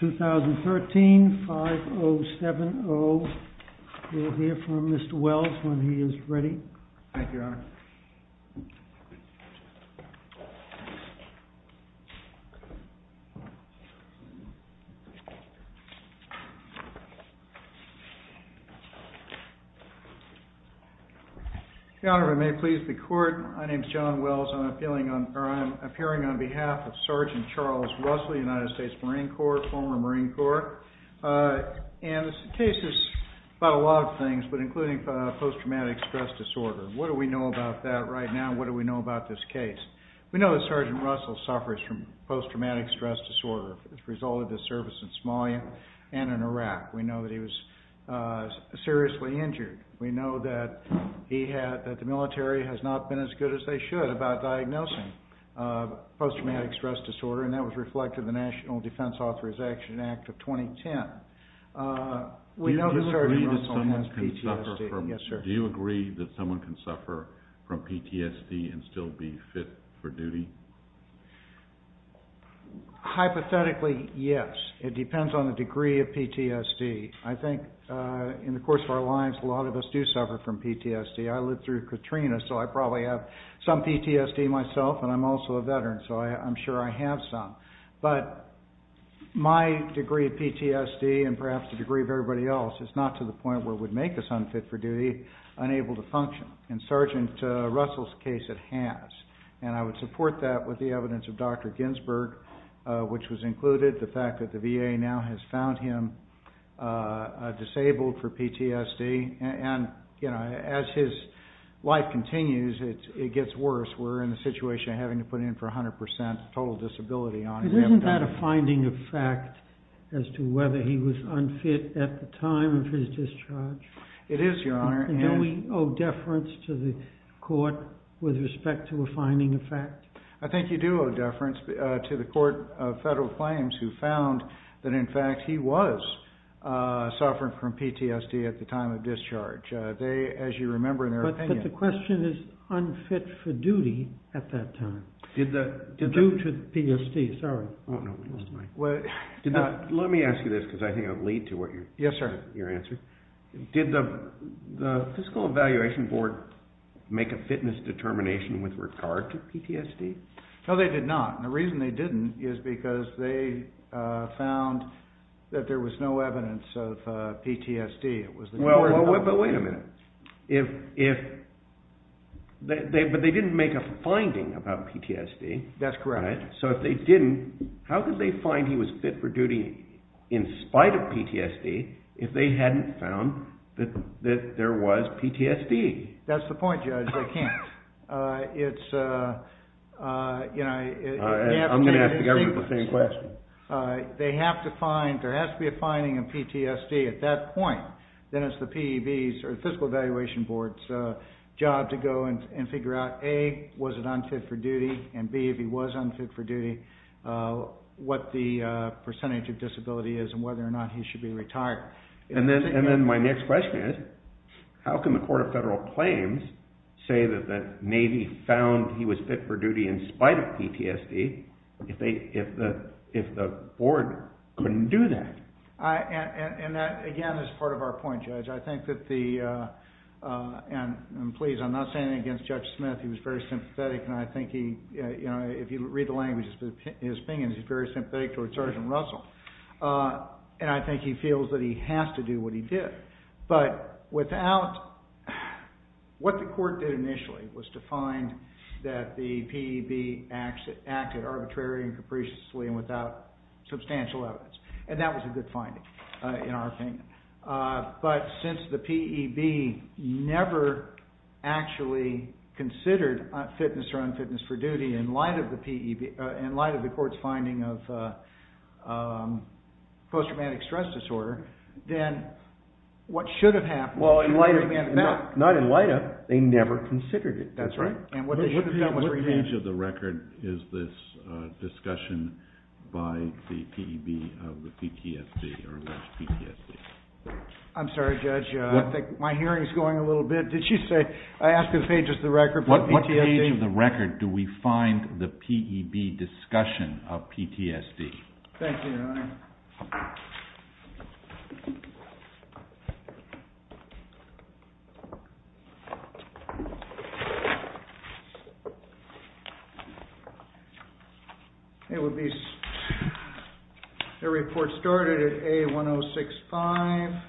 2013, 5-0-7-0. We'll hear from Mr. Wells when he is ready. Your Honor, if it may please the Court, my name is John Wells. I'm appearing on behalf of Sgt. Charles Russell, United States Marine Corps, former Marine Corps. This case is about a lot of things, but including post-traumatic stress disorder. What do we know about that right now? What do we know about this case? We know that Sgt. Russell suffers from post-traumatic stress disorder as a result of his service in Somalia and in Iraq. We know that he was seriously injured. We know that the military has not been as good as they should about diagnosing post-traumatic stress disorder, and that was reflected in the National Defense Authorization Act of 2010. Do you agree that someone can suffer from PTSD and still be fit for duty? Hypothetically, yes. It depends on the degree of PTSD. I think in the course of our lives, a lot of us do suffer from PTSD. I lived through Katrina, so I probably have some PTSD myself, and I'm also a veteran, so I'm sure I have some. But my degree of PTSD and perhaps the degree of everybody else is not to the point where it would make us unfit for duty, unable to function. In Sgt. Russell's case, it has. And I would support that with the evidence of Dr. Ginsberg, which was included, the fact that the VA now has found him disabled for PTSD. And as his life continues, it gets worse. We're in the situation of having to put in for 100% total disability on him. Isn't that a finding of fact as to whether he was unfit at the time of his discharge? It is, Your Honor. And don't we owe deference to the court with respect to a finding of fact? I think you do owe deference to the Court of Federal Claims who found that, in fact, he was suffering from PTSD at the time of discharge. They, as you remember in their opinion... But the question is unfit for duty at that time. Due to PTSD, sorry. Let me ask you this, because I think it would lead to your answer. Did the Physical Evaluation Board make a fitness determination with regard to PTSD? No, they did not. And the reason they didn't is because they found that there was no evidence of PTSD. It was the court... But wait a minute. But they didn't make a finding about PTSD. That's correct. So if they didn't, how could they find he was fit for duty in spite of PTSD if they hadn't found that there was PTSD? That's the point, Judge. They can't. It's you know... I'm going to ask the government the same question. They have to find, there has to be a finding of PTSD at that point. Then it's the PEB's or Physical Evaluation Board's job to go and figure out, A, was it unfit for duty? And B, if he was unfit for duty, what the percentage of disability is and whether or not he should be retired. And then my next question is, how can the Court of Federal Claims say that the Navy found he was fit for duty in spite of PTSD if the board couldn't do that? And that, again, is part of our point, Judge. I think that the... And please, I'm not saying it against Judge Smith. He was very sympathetic and I think he... If you read the language, his opinions, he's very sympathetic towards Sergeant Russell. And I think he feels that he has to do what he did. But without... What the court did initially was to find that the PEB acted arbitrary and capriciously and without substantial evidence. And that was a good finding in our opinion. But since the PEB never actually considered fitness or unfitness for duty in light of the PEB, in light of the court's finding of post-traumatic stress disorder, then what should have happened... Well, in light of... Not in light of, they never considered it. That's right. And what they should have done was remanded. What page of the record is this discussion by the PEB of the PTSD or what's PTSD? I'm sorry, Judge. I think my hearing is going a little bit. Did you say... I asked if the page of the record... What page of the record do we find the PEB discussion of PTSD? Thank you, Your Honor. It would be... The report started at A1065.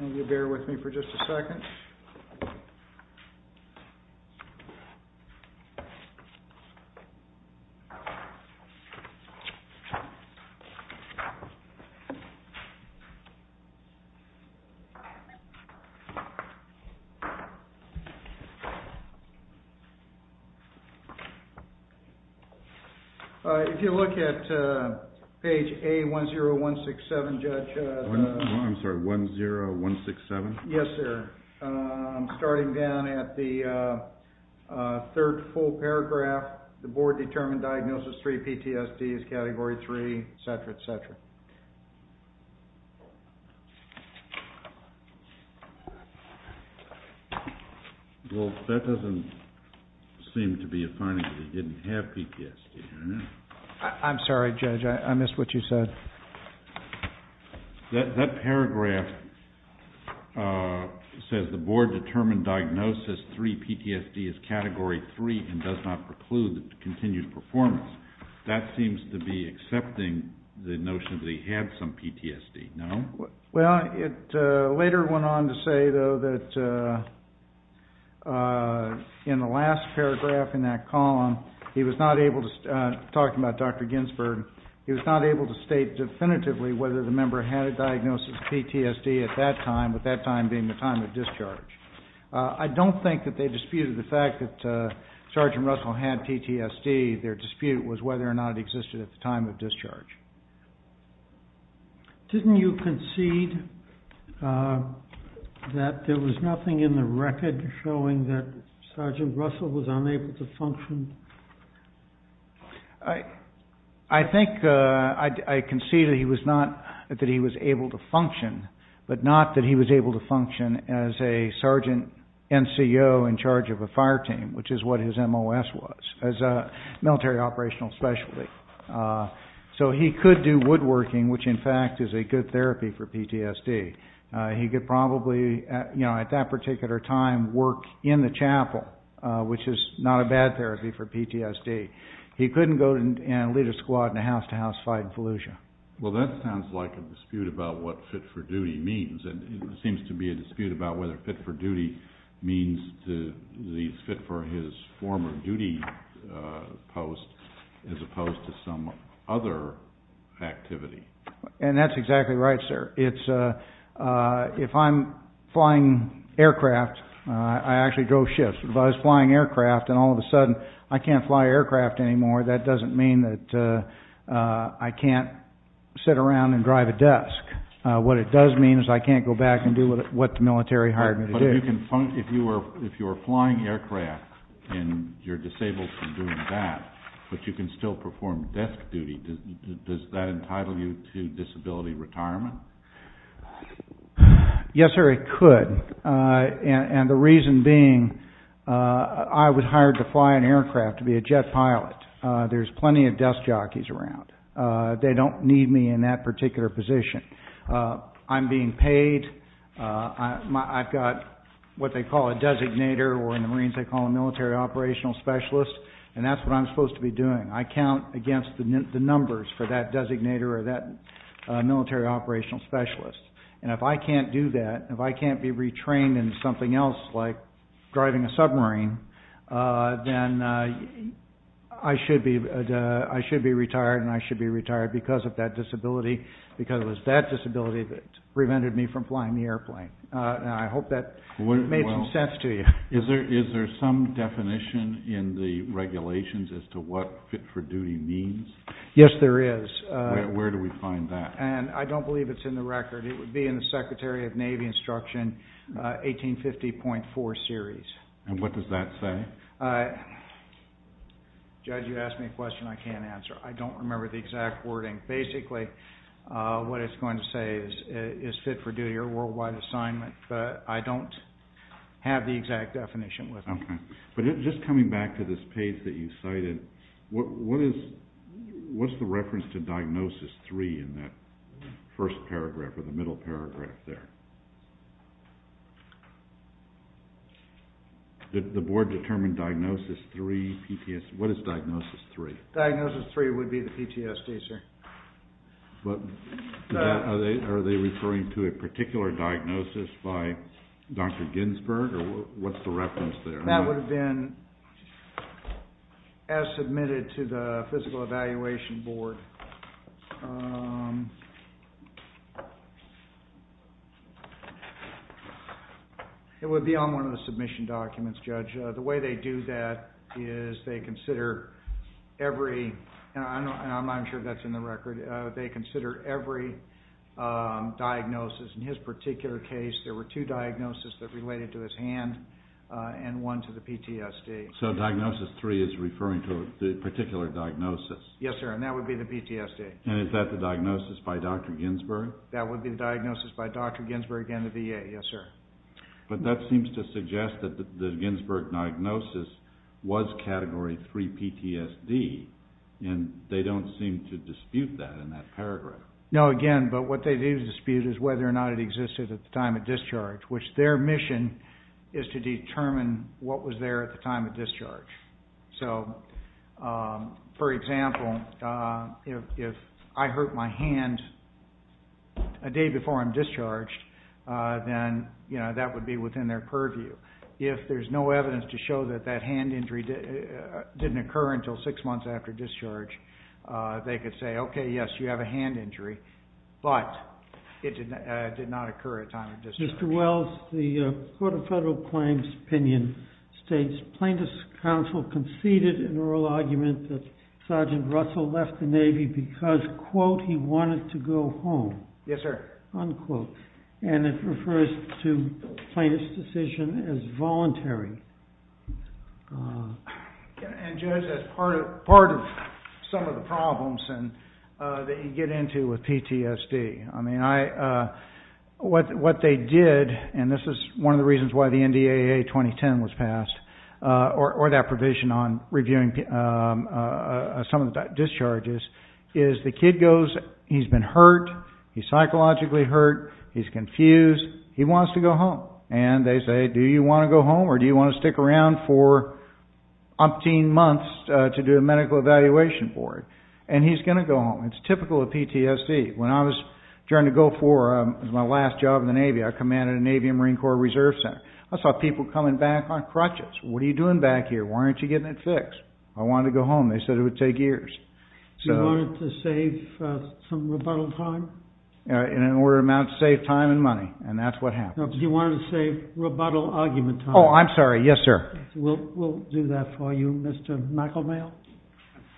And you bear with me for just a second. All right. If you look at page A10167, Judge... I'm sorry, 10167? Yes, sir. Starting down at the third full paragraph, the board determined diagnosis three PTSD is category three, et cetera, et cetera. Well, that doesn't seem to be a finding that he didn't have PTSD. I'm sorry, Judge. I missed what you said. That paragraph says the board determined diagnosis three PTSD is category three and does not preclude continued performance. That seems to be accepting the notion that he had some PTSD, no? Well, it later went on to say, though, that in the last paragraph in that column, he was not able to... Talking about Dr. Ginsberg, he was not able to state definitively whether the member had a diagnosis of PTSD at that time, with that time being the time of discharge. I don't think that they disputed the fact that Sergeant Russell had PTSD. Their dispute was whether or not it existed at the time of discharge. Didn't you concede that there was nothing in the record showing that Sergeant Russell was unable to function? I think I concede that he was able to function, but not that he was able to function as a Sergeant NCO in charge of a fire team, which is what his MOS was, as a military operational specialty. So he could do woodworking, which in fact is a good therapy for PTSD. He could probably, at that particular time, work in the chapel, which is not a bad therapy for PTSD. He couldn't go and lead a squad in a house-to-house fight in Fallujah. Well, that sounds like a dispute about what fit-for-duty means, and it seems to be a dispute about whether fit-for-duty means to these fit for his former duty post, as opposed to some other activity. And that's exactly right, sir. If I'm flying aircraft, I actually drove ships, but if I was flying aircraft and all of a sudden I can't fly aircraft anymore, that doesn't mean that I can't sit around and drive a desk. What it does mean is I can't go back and do what the military hired me to do. If you're flying aircraft and you're disabled from doing that, but you can still perform desk duty, does that entitle you to disability retirement? Yes, sir, it could. And the reason being, I was hired to fly an aircraft to be a jet pilot. There's plenty of desk jockeys around. They don't need me in that particular position. I'm being paid. I've got what they call a designator, or in the Marines, they call a military operational specialist, and that's what I'm supposed to be doing. I count against the numbers for that designator or that military operational specialist. And if I can't do that, if I can't be retrained in something else, like driving a submarine, then I should be retired, and I should be retired because of that disability, because it was that disability that prevented me from flying the airplane. I hope that made some sense to you. Is there some definition in the regulations as to what fit for duty means? Yes, there is. Where do we find that? And I don't believe it's in the record. It would be in the Secretary of Navy Instruction 1850.4 series. And what does that say? Judge, you asked me a question I can't answer. I don't remember the exact wording. Basically, what it's going to say is fit for duty or worldwide assignment, but I don't have the exact definition with me. Okay. But just coming back to this page that you cited, what is the reference to diagnosis three in that first paragraph or the middle paragraph there? The board determined diagnosis three, PTSD. What is diagnosis three? Diagnosis three would be the PTSD, sir. Are they referring to a particular diagnosis by Dr. Ginsburg? Or what's the reference there? That would have been as submitted to the Physical Evaluation Board. It would be on one of the submission documents, Judge. The way they do that is they consider every, and I'm sure that's in the record, they consider every diagnosis. In his particular case, there were two diagnoses that related to his hand and one to the PTSD. So diagnosis three is referring to a particular diagnosis? Yes, sir, and that would be the PTSD. And is that the diagnosis by Dr. Ginsburg? That would be the diagnosis by Dr. Ginsburg and the VA, yes, sir. But that seems to suggest that the Ginsburg diagnosis was category three PTSD, and they don't seem to dispute that in that paragraph. No, again, but what they do dispute is whether or not it existed at the time of discharge, which their mission is to determine what was there at the time of discharge. So, for example, if I hurt my hand a day before I'm discharged, then that would be within their purview. If there's no evidence to show that that hand injury didn't occur until six months after discharge, they could say, okay, yes, you have a hand injury, but it did not occur at time of discharge. Mr. Wells, the Court of Federal Claims Opinion states, plaintiff's counsel conceded in oral argument that Sergeant Russell left the Navy because, quote, he wanted to go home. Yes, sir. Unquote. And it refers to plaintiff's decision as voluntary. And just as part of some of the problems that you get into with PTSD. I mean, what they did, and this is one of the reasons why the NDAA 2010 was passed, or that provision on reviewing some of the discharges, is the kid goes, he's been hurt, he's psychologically hurt, he's confused, he wants to go home. And they say, do you want to go home or do you want to stick around for umpteen months to do a medical evaluation for it? And he's going to go home. It's typical of PTSD. When I was trying to go for my last job in the Navy, I commanded a Navy and Marine Corps Reserve Center. I saw people coming back on crutches. What are you doing back here? Why aren't you getting it fixed? I wanted to go home. They said it would take years. So you wanted to save some rebuttal time? In an order to save time and money. And that's what happened. You wanted to save rebuttal argument time. Oh, I'm sorry. Yes, sir. We'll do that for you. Mr. McElmail?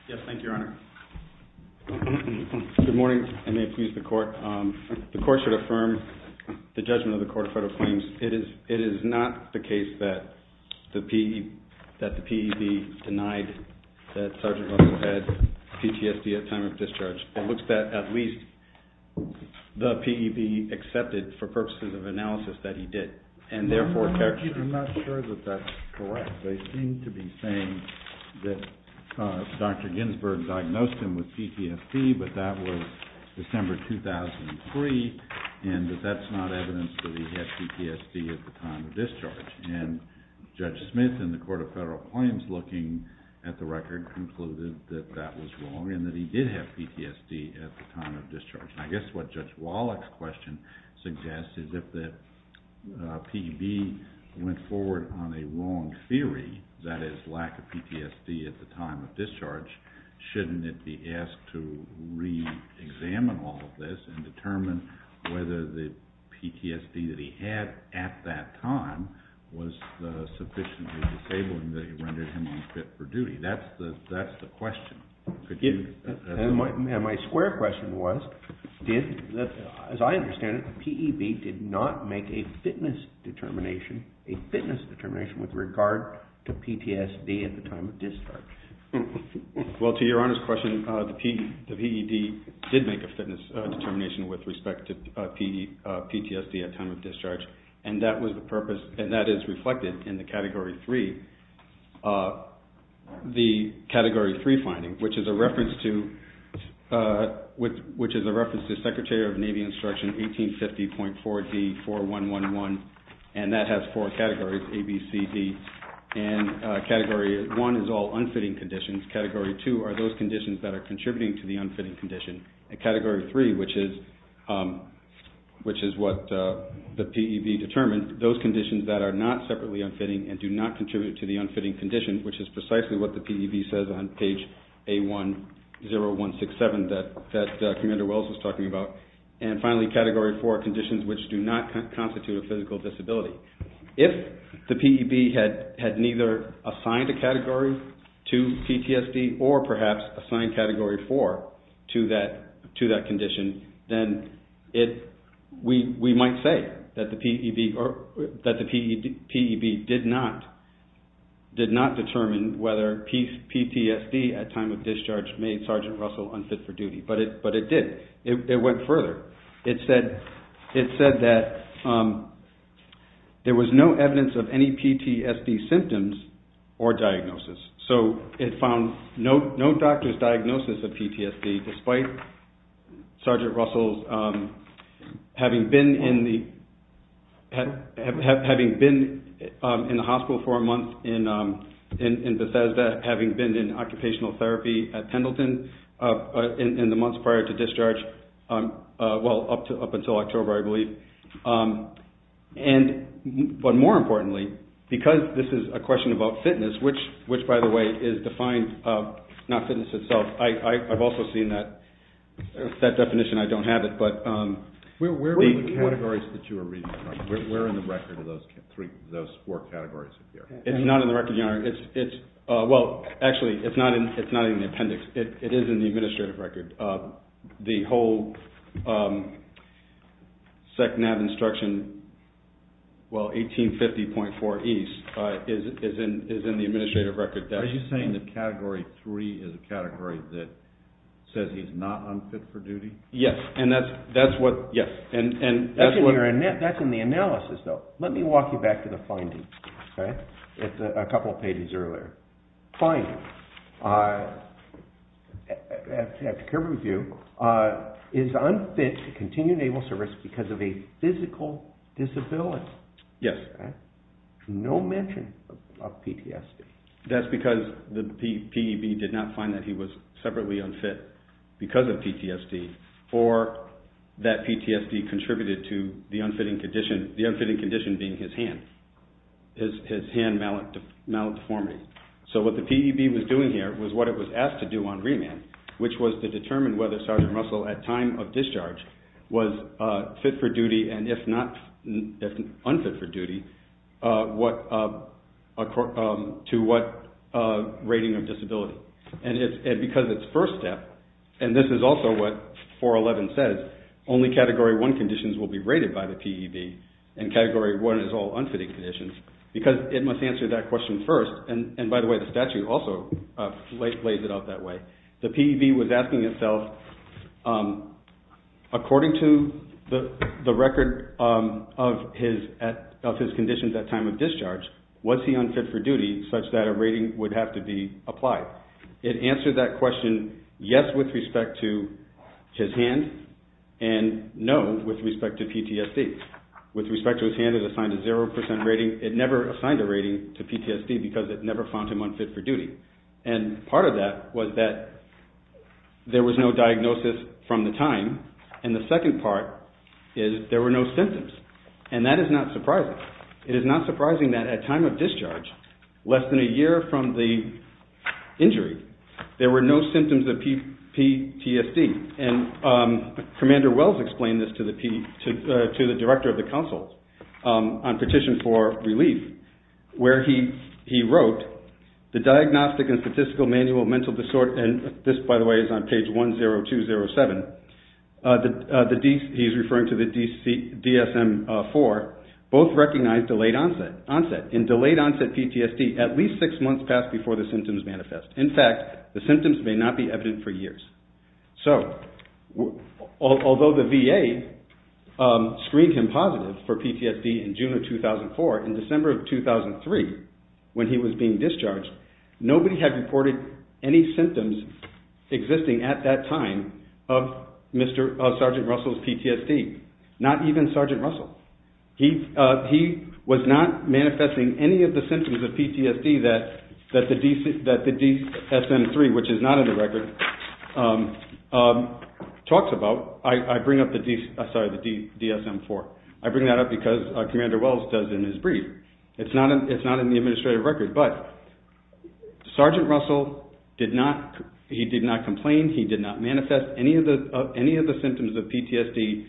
Yes, thank you, Your Honor. Good morning, and may it please the Court. The Court should affirm the judgment of the Court of Federal Claims. It is not the case that the PED denied that Sergeant Russell had PTSD at time of discharge. It looks that at least the PED accepted for purposes of analysis that he did. And therefore, character- I'm not sure that that's correct. They seem to be saying that Dr. Ginsburg diagnosed him with PTSD, but that was December 2003, and that that's not evidence that he had PTSD at the time of discharge. And Judge Smith in the Court of Federal Claims, looking at the record, concluded that that was wrong and that he did have PTSD at the time of discharge. I guess what Judge Wallach's question suggests is if the PED went forward on a wrong theory, that is, lack of PTSD at the time of discharge, shouldn't it be asked to re-examine all of this and determine whether the PTSD that he had at that time was sufficiently disabling that it rendered him unfit for duty? That's the question. And my square question was, as I understand it, the PED did not make a fitness determination, a fitness determination with regard to PTSD at the time of discharge. Well, to your Honor's question, the PED did make a fitness determination with respect to PTSD at time of discharge, and that was the purpose, and that is reflected in the Category 3. The Category 3 finding, which is a reference to Secretary of Navy Instruction 1850.4D4111, and that has four categories, A, B, C, D, and Category 1 is all unfitting conditions, Category 2 are those conditions that are contributing to the unfitting condition, and Category 3, which is what the PED determined, those conditions that are not separately unfitting and do not contribute to the unfitting condition, which is precisely what the PED says on page A10167 that Commander Wells was talking about. And finally, Category 4, conditions which do not constitute a physical disability. If the PED had neither assigned a category to PTSD or perhaps assigned Category 4 to that condition, the PED did not determine whether PTSD at time of discharge made Sergeant Russell unfit for duty, but it did. It went further. It said that there was no evidence of any PTSD symptoms or diagnosis, so it found no doctor's diagnosis of PTSD despite Sergeant Russell's diagnosis. Having been in the hospital for a month in Bethesda, having been in occupational therapy at Pendleton in the months prior to discharge, well, up until October, I believe, but more importantly, because this is a question about fitness, which, by the way, is defined, not fitness itself, I've also seen that definition. I don't have it, but... What are the categories that you are reading from? Where in the record are those four categories appear? It's not in the record, Your Honor. Well, actually, it's not in the appendix. It is in the administrative record. The whole SEC NAB instruction, well, 1850.4E is in the administrative record. Are you saying that Category 3 is a category that says he's not unfit for duty? Yes, and that's what... That's in the analysis, though. Let me walk you back to the findings, okay? It's a couple of pages earlier. Finding, after care review, is unfit to continue Naval service because of a physical disability. Yes. No mention of PTSD. That's because the P.E.B. did not find that he was separately unfit because of PTSD, or that PTSD contributed to the unfitting condition, the unfitting condition being his hand, his hand malate deformity. So what the P.E.B. was doing here was what it was asked to do on remand, which was to determine whether Sergeant Russell, at time of discharge, was what rating of disability. And because it's first step, and this is also what 411 says, only Category 1 conditions will be rated by the P.E.B., and Category 1 is all unfitting conditions, because it must answer that question first, and by the way, the statute also lays it out that way. The P.E.B. was asking itself, according to the record of his conditions at time of discharge, was he unfit for duty such that a rating would have to be applied? It answered that question yes with respect to his hand, and no with respect to PTSD. With respect to his hand, it assigned a 0% rating. It never assigned a rating to PTSD because it never found him unfit for duty. And part of that was that there was no diagnosis from the time, and the second part is there were no symptoms. And that is not surprising. It is not surprising that at time of discharge, less than a year from the injury, there were no symptoms of PTSD. And Commander Wells explained this to the Director of the Council on Petition for Relief, where he wrote, the Diagnostic and Statistical Manual of Mental Disorder, and this, by the way, is on page 10207, he's referring to the DSM-IV, both recognized delayed onset and delayed onset PTSD at least six months past before the symptoms manifest. In fact, the symptoms may not be evident for years. So although the VA screened him positive for PTSD in June of 2004, in December of 2003, when he was being discharged, nobody had reported any symptoms existing at that time of Sergeant Russell's PTSD, not even Sergeant Russell. He was not manifesting any of the symptoms of PTSD that the DSM-III, which is not in the record, talks about. I bring up the DSM-IV. I bring that up because Commander Wells does in his brief. It's not in the administrative record, but Sergeant Russell, he did not complain, he did not manifest any of the symptoms of PTSD,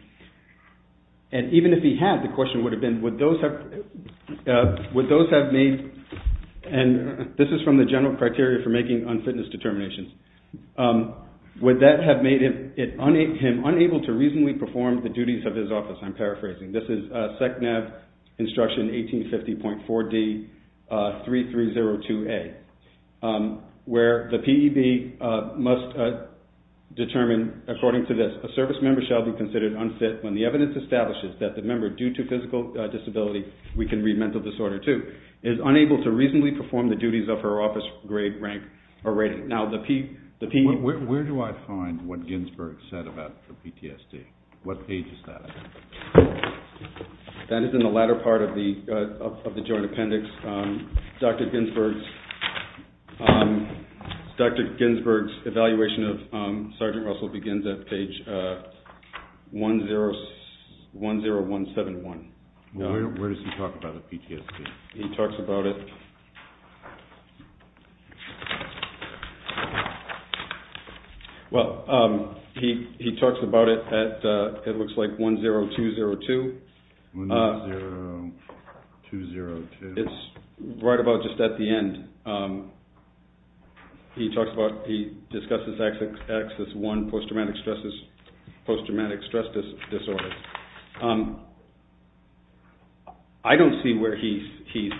and even if he had, the question would have been, and this is from the General Criteria for Making Unfitness Determinations, would that have made him unable to reasonably perform the duties of his office? I'm determined, according to this, a service member shall be considered unfit when the evidence establishes that the member, due to physical disability, we can read mental disorder too, is unable to reasonably perform the duties of her office grade, rank, or rating. Where do I find what Ginsburg said about the PTSD? What page is that? That is in the latter part of the joint appendix. Dr. Ginsburg's Sergeant Russell begins at page 10171. Where does he talk about the PTSD? He talks about it at, it looks like, 10202. It's right about just at the end. He talks about, he discusses Axis 1, Post Traumatic Stress Disorder. I don't see where he says that he's talking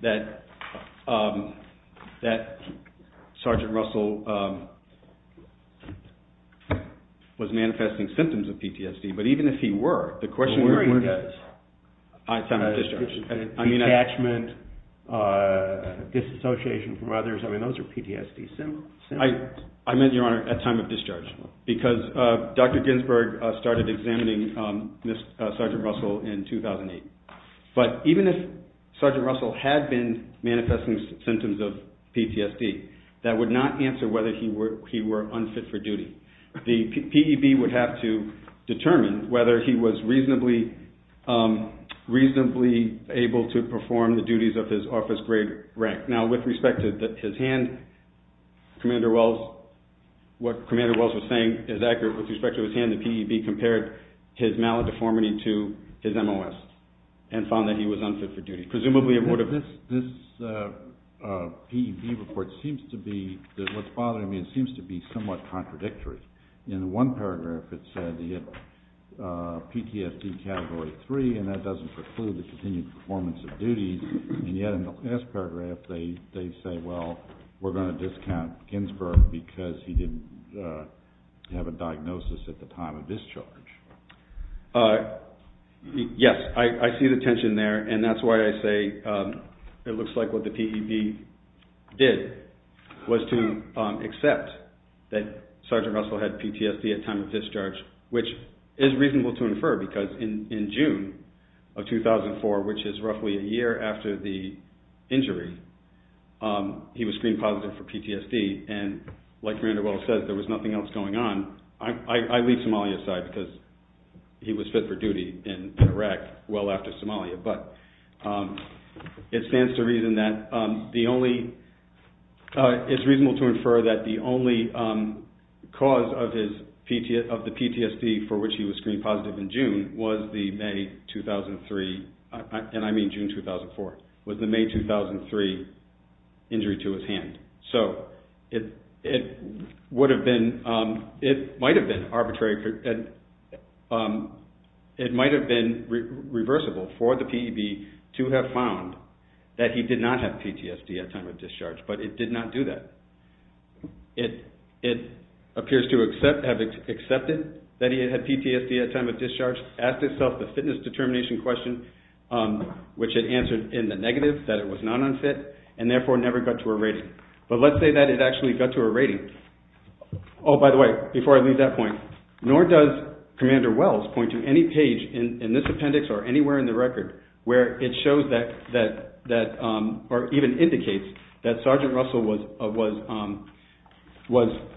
about the PTSD. That Sergeant Russell was manifesting symptoms of PTSD, but even if he were, the question would be at time of discharge. Detachment, disassociation from others, those are PTSD symptoms. I meant, Your Honor, at time of discharge, because Dr. Ginsburg started examining Sergeant Russell in 2008. But even if Sergeant Russell had been manifesting symptoms of PTSD, that would not answer whether he were unfit for duty. The PEB would have to determine whether he was reasonably able to perform the duties of his office grade, rank. Now, with respect to his hand, Commander Wells, what Commander Wells was saying is accurate with respect to his hand, the PEB compared his maladeformity to his MOS and found that he was unfit for duty. Presumably, it would have... This PEB report seems to be, what's bothering me, it seems to be somewhat contradictory. In the one paragraph, it said he had PTSD Category 3, and that doesn't preclude the continued performance of duties. And yet, in the last paragraph, they say, well, we're going to discount Ginsburg because he didn't have a diagnosis at the time of discharge. Yes, I see the tension there, and that's why I say it looks like what the PEB did was to accept that Sergeant Russell had PTSD at time of discharge, which is reasonable to infer, because in June of 2004, which is roughly a year after the injury, he was screened positive for PTSD. And like Commander Wells said, there was nothing else going on. I leave Somalia aside because he was fit for duty in Iraq well after Somalia. But it stands to reason that the only... was the May 2003, and I mean June 2004, was the May 2003 injury to his hand. So, it might have been reversible for the PEB to have found that he did not have PTSD at time of discharge, but it did not do that. It appears to have accepted that he had PTSD at time of discharge, asked itself the fitness determination question, which it answered in the negative, that it was not unfit, and therefore never got to a rating. But let's say that it actually got to a rating. Oh, by the way, before I leave that point, nor does Commander Wells point to any page in this appendix or anywhere in the record where it shows that, or even indicates, that Sergeant Russell was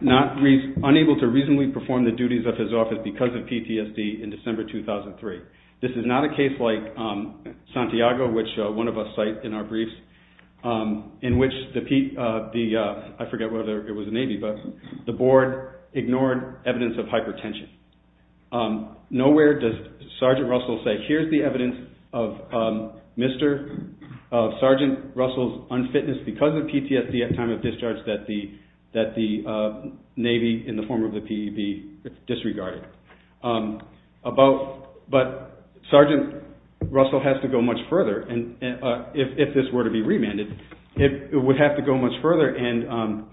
unable to reasonably perform the duties of his office because of PTSD in December 2003. This is not a case like Santiago, which one of us cite in our briefs, in which the, I forget whether it was the Navy, but the board ignored evidence of hypertension. Nowhere does Sergeant Russell say, here's the evidence of Sergeant Russell's unfitness because of PTSD at time of discharge. But Sergeant Russell has to go much further. If this were to be remanded, it would have to go much further and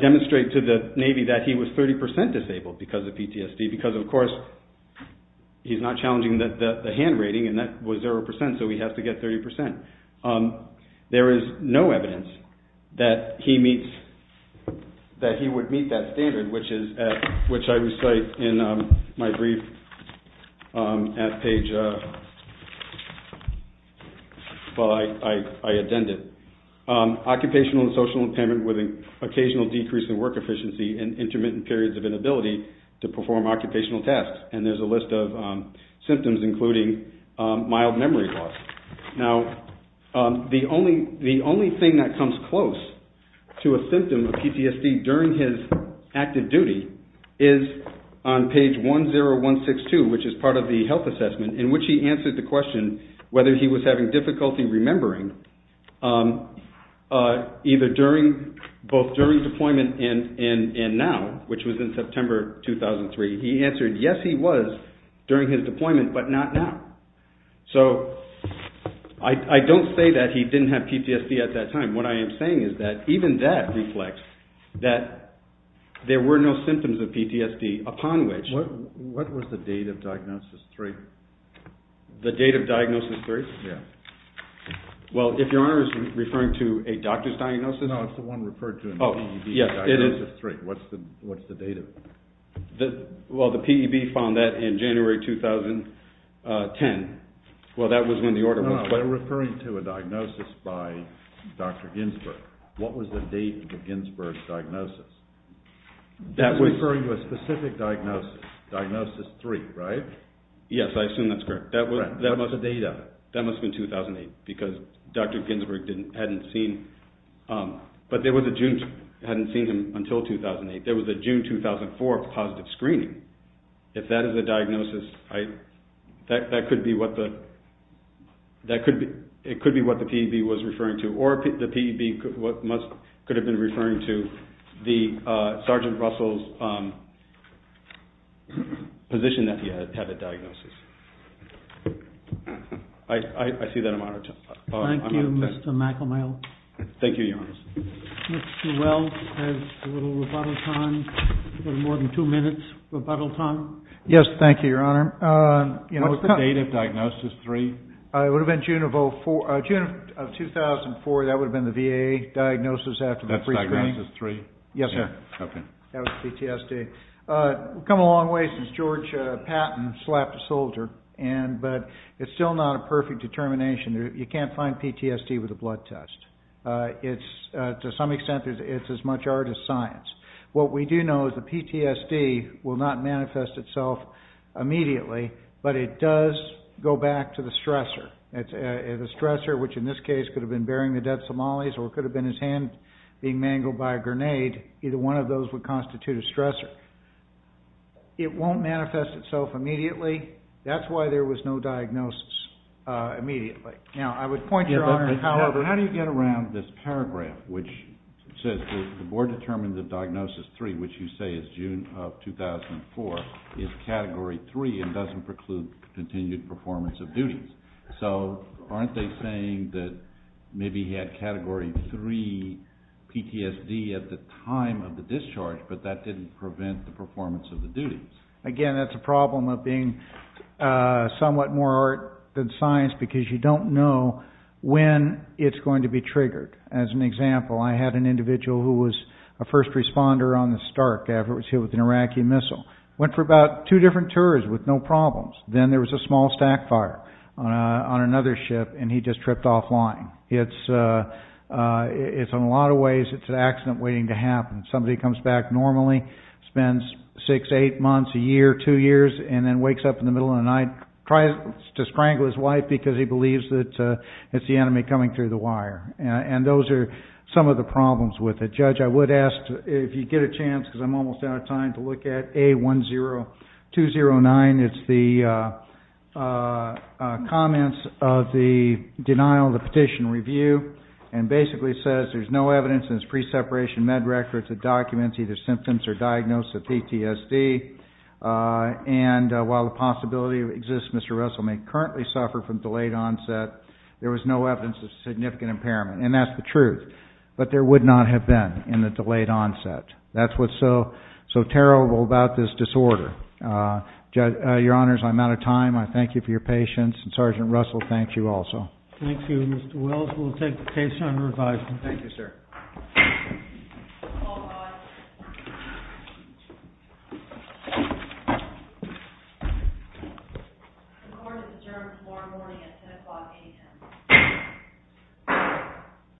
demonstrate to the Navy that he was 30% disabled because of PTSD, because of course, he's not challenging the hand rating, and that was 0%, so he has to get 30%. There is no my brief at page, well, I addended. Occupational and social impairment with an occasional decrease in work efficiency and intermittent periods of inability to perform occupational tasks. And there's a list of symptoms, including mild memory loss. Now, the only thing that comes close to a symptom of PTSD during his active duty is on page 10162, which is part of the health assessment, in which he answered the question whether he was having difficulty remembering either during, both during deployment and now, which was in September 2003. He answered, yes, he was during his deployment, but not now. So, I don't say that he didn't have PTSD at that time. What I am saying is that even that reflects that there were no symptoms of PTSD upon which... What was the date of diagnosis 3? The date of diagnosis 3? Yeah. Well, if your honor is referring to a doctor's diagnosis... No, it's the one referred to in the PED diagnosis 3. What's the date of... Well, the PED found that in January 2010. Well, that was when the order was... By referring to a diagnosis by Dr. Ginsberg, what was the date of the Ginsberg diagnosis? That's referring to a specific diagnosis, diagnosis 3, right? Yes, I assume that's correct. Correct. What was the date of it? That must have been 2008, because Dr. Ginsberg hadn't seen... But there was a June... Hadn't seen him until 2008. There was a June 2004 positive screening. If that is a diagnosis, I... That could be what the... It could be what the PED was referring to, or the PED could have been referring to the Sergeant Russell's position that he had had a diagnosis. I see that amount of time. Thank you, Mr. McElmail. Thank you, your honor. Mr. Wells has a little rebuttal time, a little more than two minutes rebuttal time. Yes, thank you, your honor. What's the date of diagnosis 3? It would have been June of 2004. That would have been the VA diagnosis after the pre-screening. That's diagnosis 3? Yes, sir. Okay. That was PTSD. We've come a long way since George Patton slapped a soldier, and... But it's still not a perfect determination. You can't find PTSD with a blood test. It's... To some extent, it's as much art as science. What we do know is the PTSD will not manifest itself immediately, but it does go back to the stressor. The stressor, which in this case could have been burying the dead Somalis, or it could have been his hand being mangled by a grenade. Either one of those would constitute a stressor. It won't manifest itself immediately. That's why there was no diagnosis immediately. Now, I would point your honor, however... The diagnosis 3, which you say is June of 2004, is category 3 and doesn't preclude continued performance of duties. So aren't they saying that maybe he had category 3 PTSD at the time of the discharge, but that didn't prevent the performance of the duties? Again, that's a problem of being somewhat more art than science, because you don't know when it's going to be triggered. As an example, I had an individual who was a first responder on the Stark after it was hit with an Iraqi missile. Went for about two different tours with no problems. Then there was a small stack fire on another ship, and he just tripped offline. It's... In a lot of ways, it's an accident waiting to happen. Somebody comes back normally, spends six, eight months, a year, two years, and then wakes up in the middle of the night, tries to strangle his wife because he believes that it's the enemy coming through the wire. And those are some of the problems with it. Judge, I would ask, if you get a chance, because I'm almost out of time, to look at A10209. It's the comments of the denial of the petition review, and basically says there's no evidence, and it's pre-separation med records that documents either symptoms or diagnosis of PTSD. And while the possibility exists Mr. Russell may currently suffer from delayed onset, there was no evidence of significant impairment. And that's the truth. But there would not have been in the delayed onset. That's what's so terrible about this disorder. Your Honors, I'm out of time. I thank you for your patience, and Sergeant Russell, thank you also. Thank you, Mr. Wells. We'll take the case under advisement. Thank you, sir.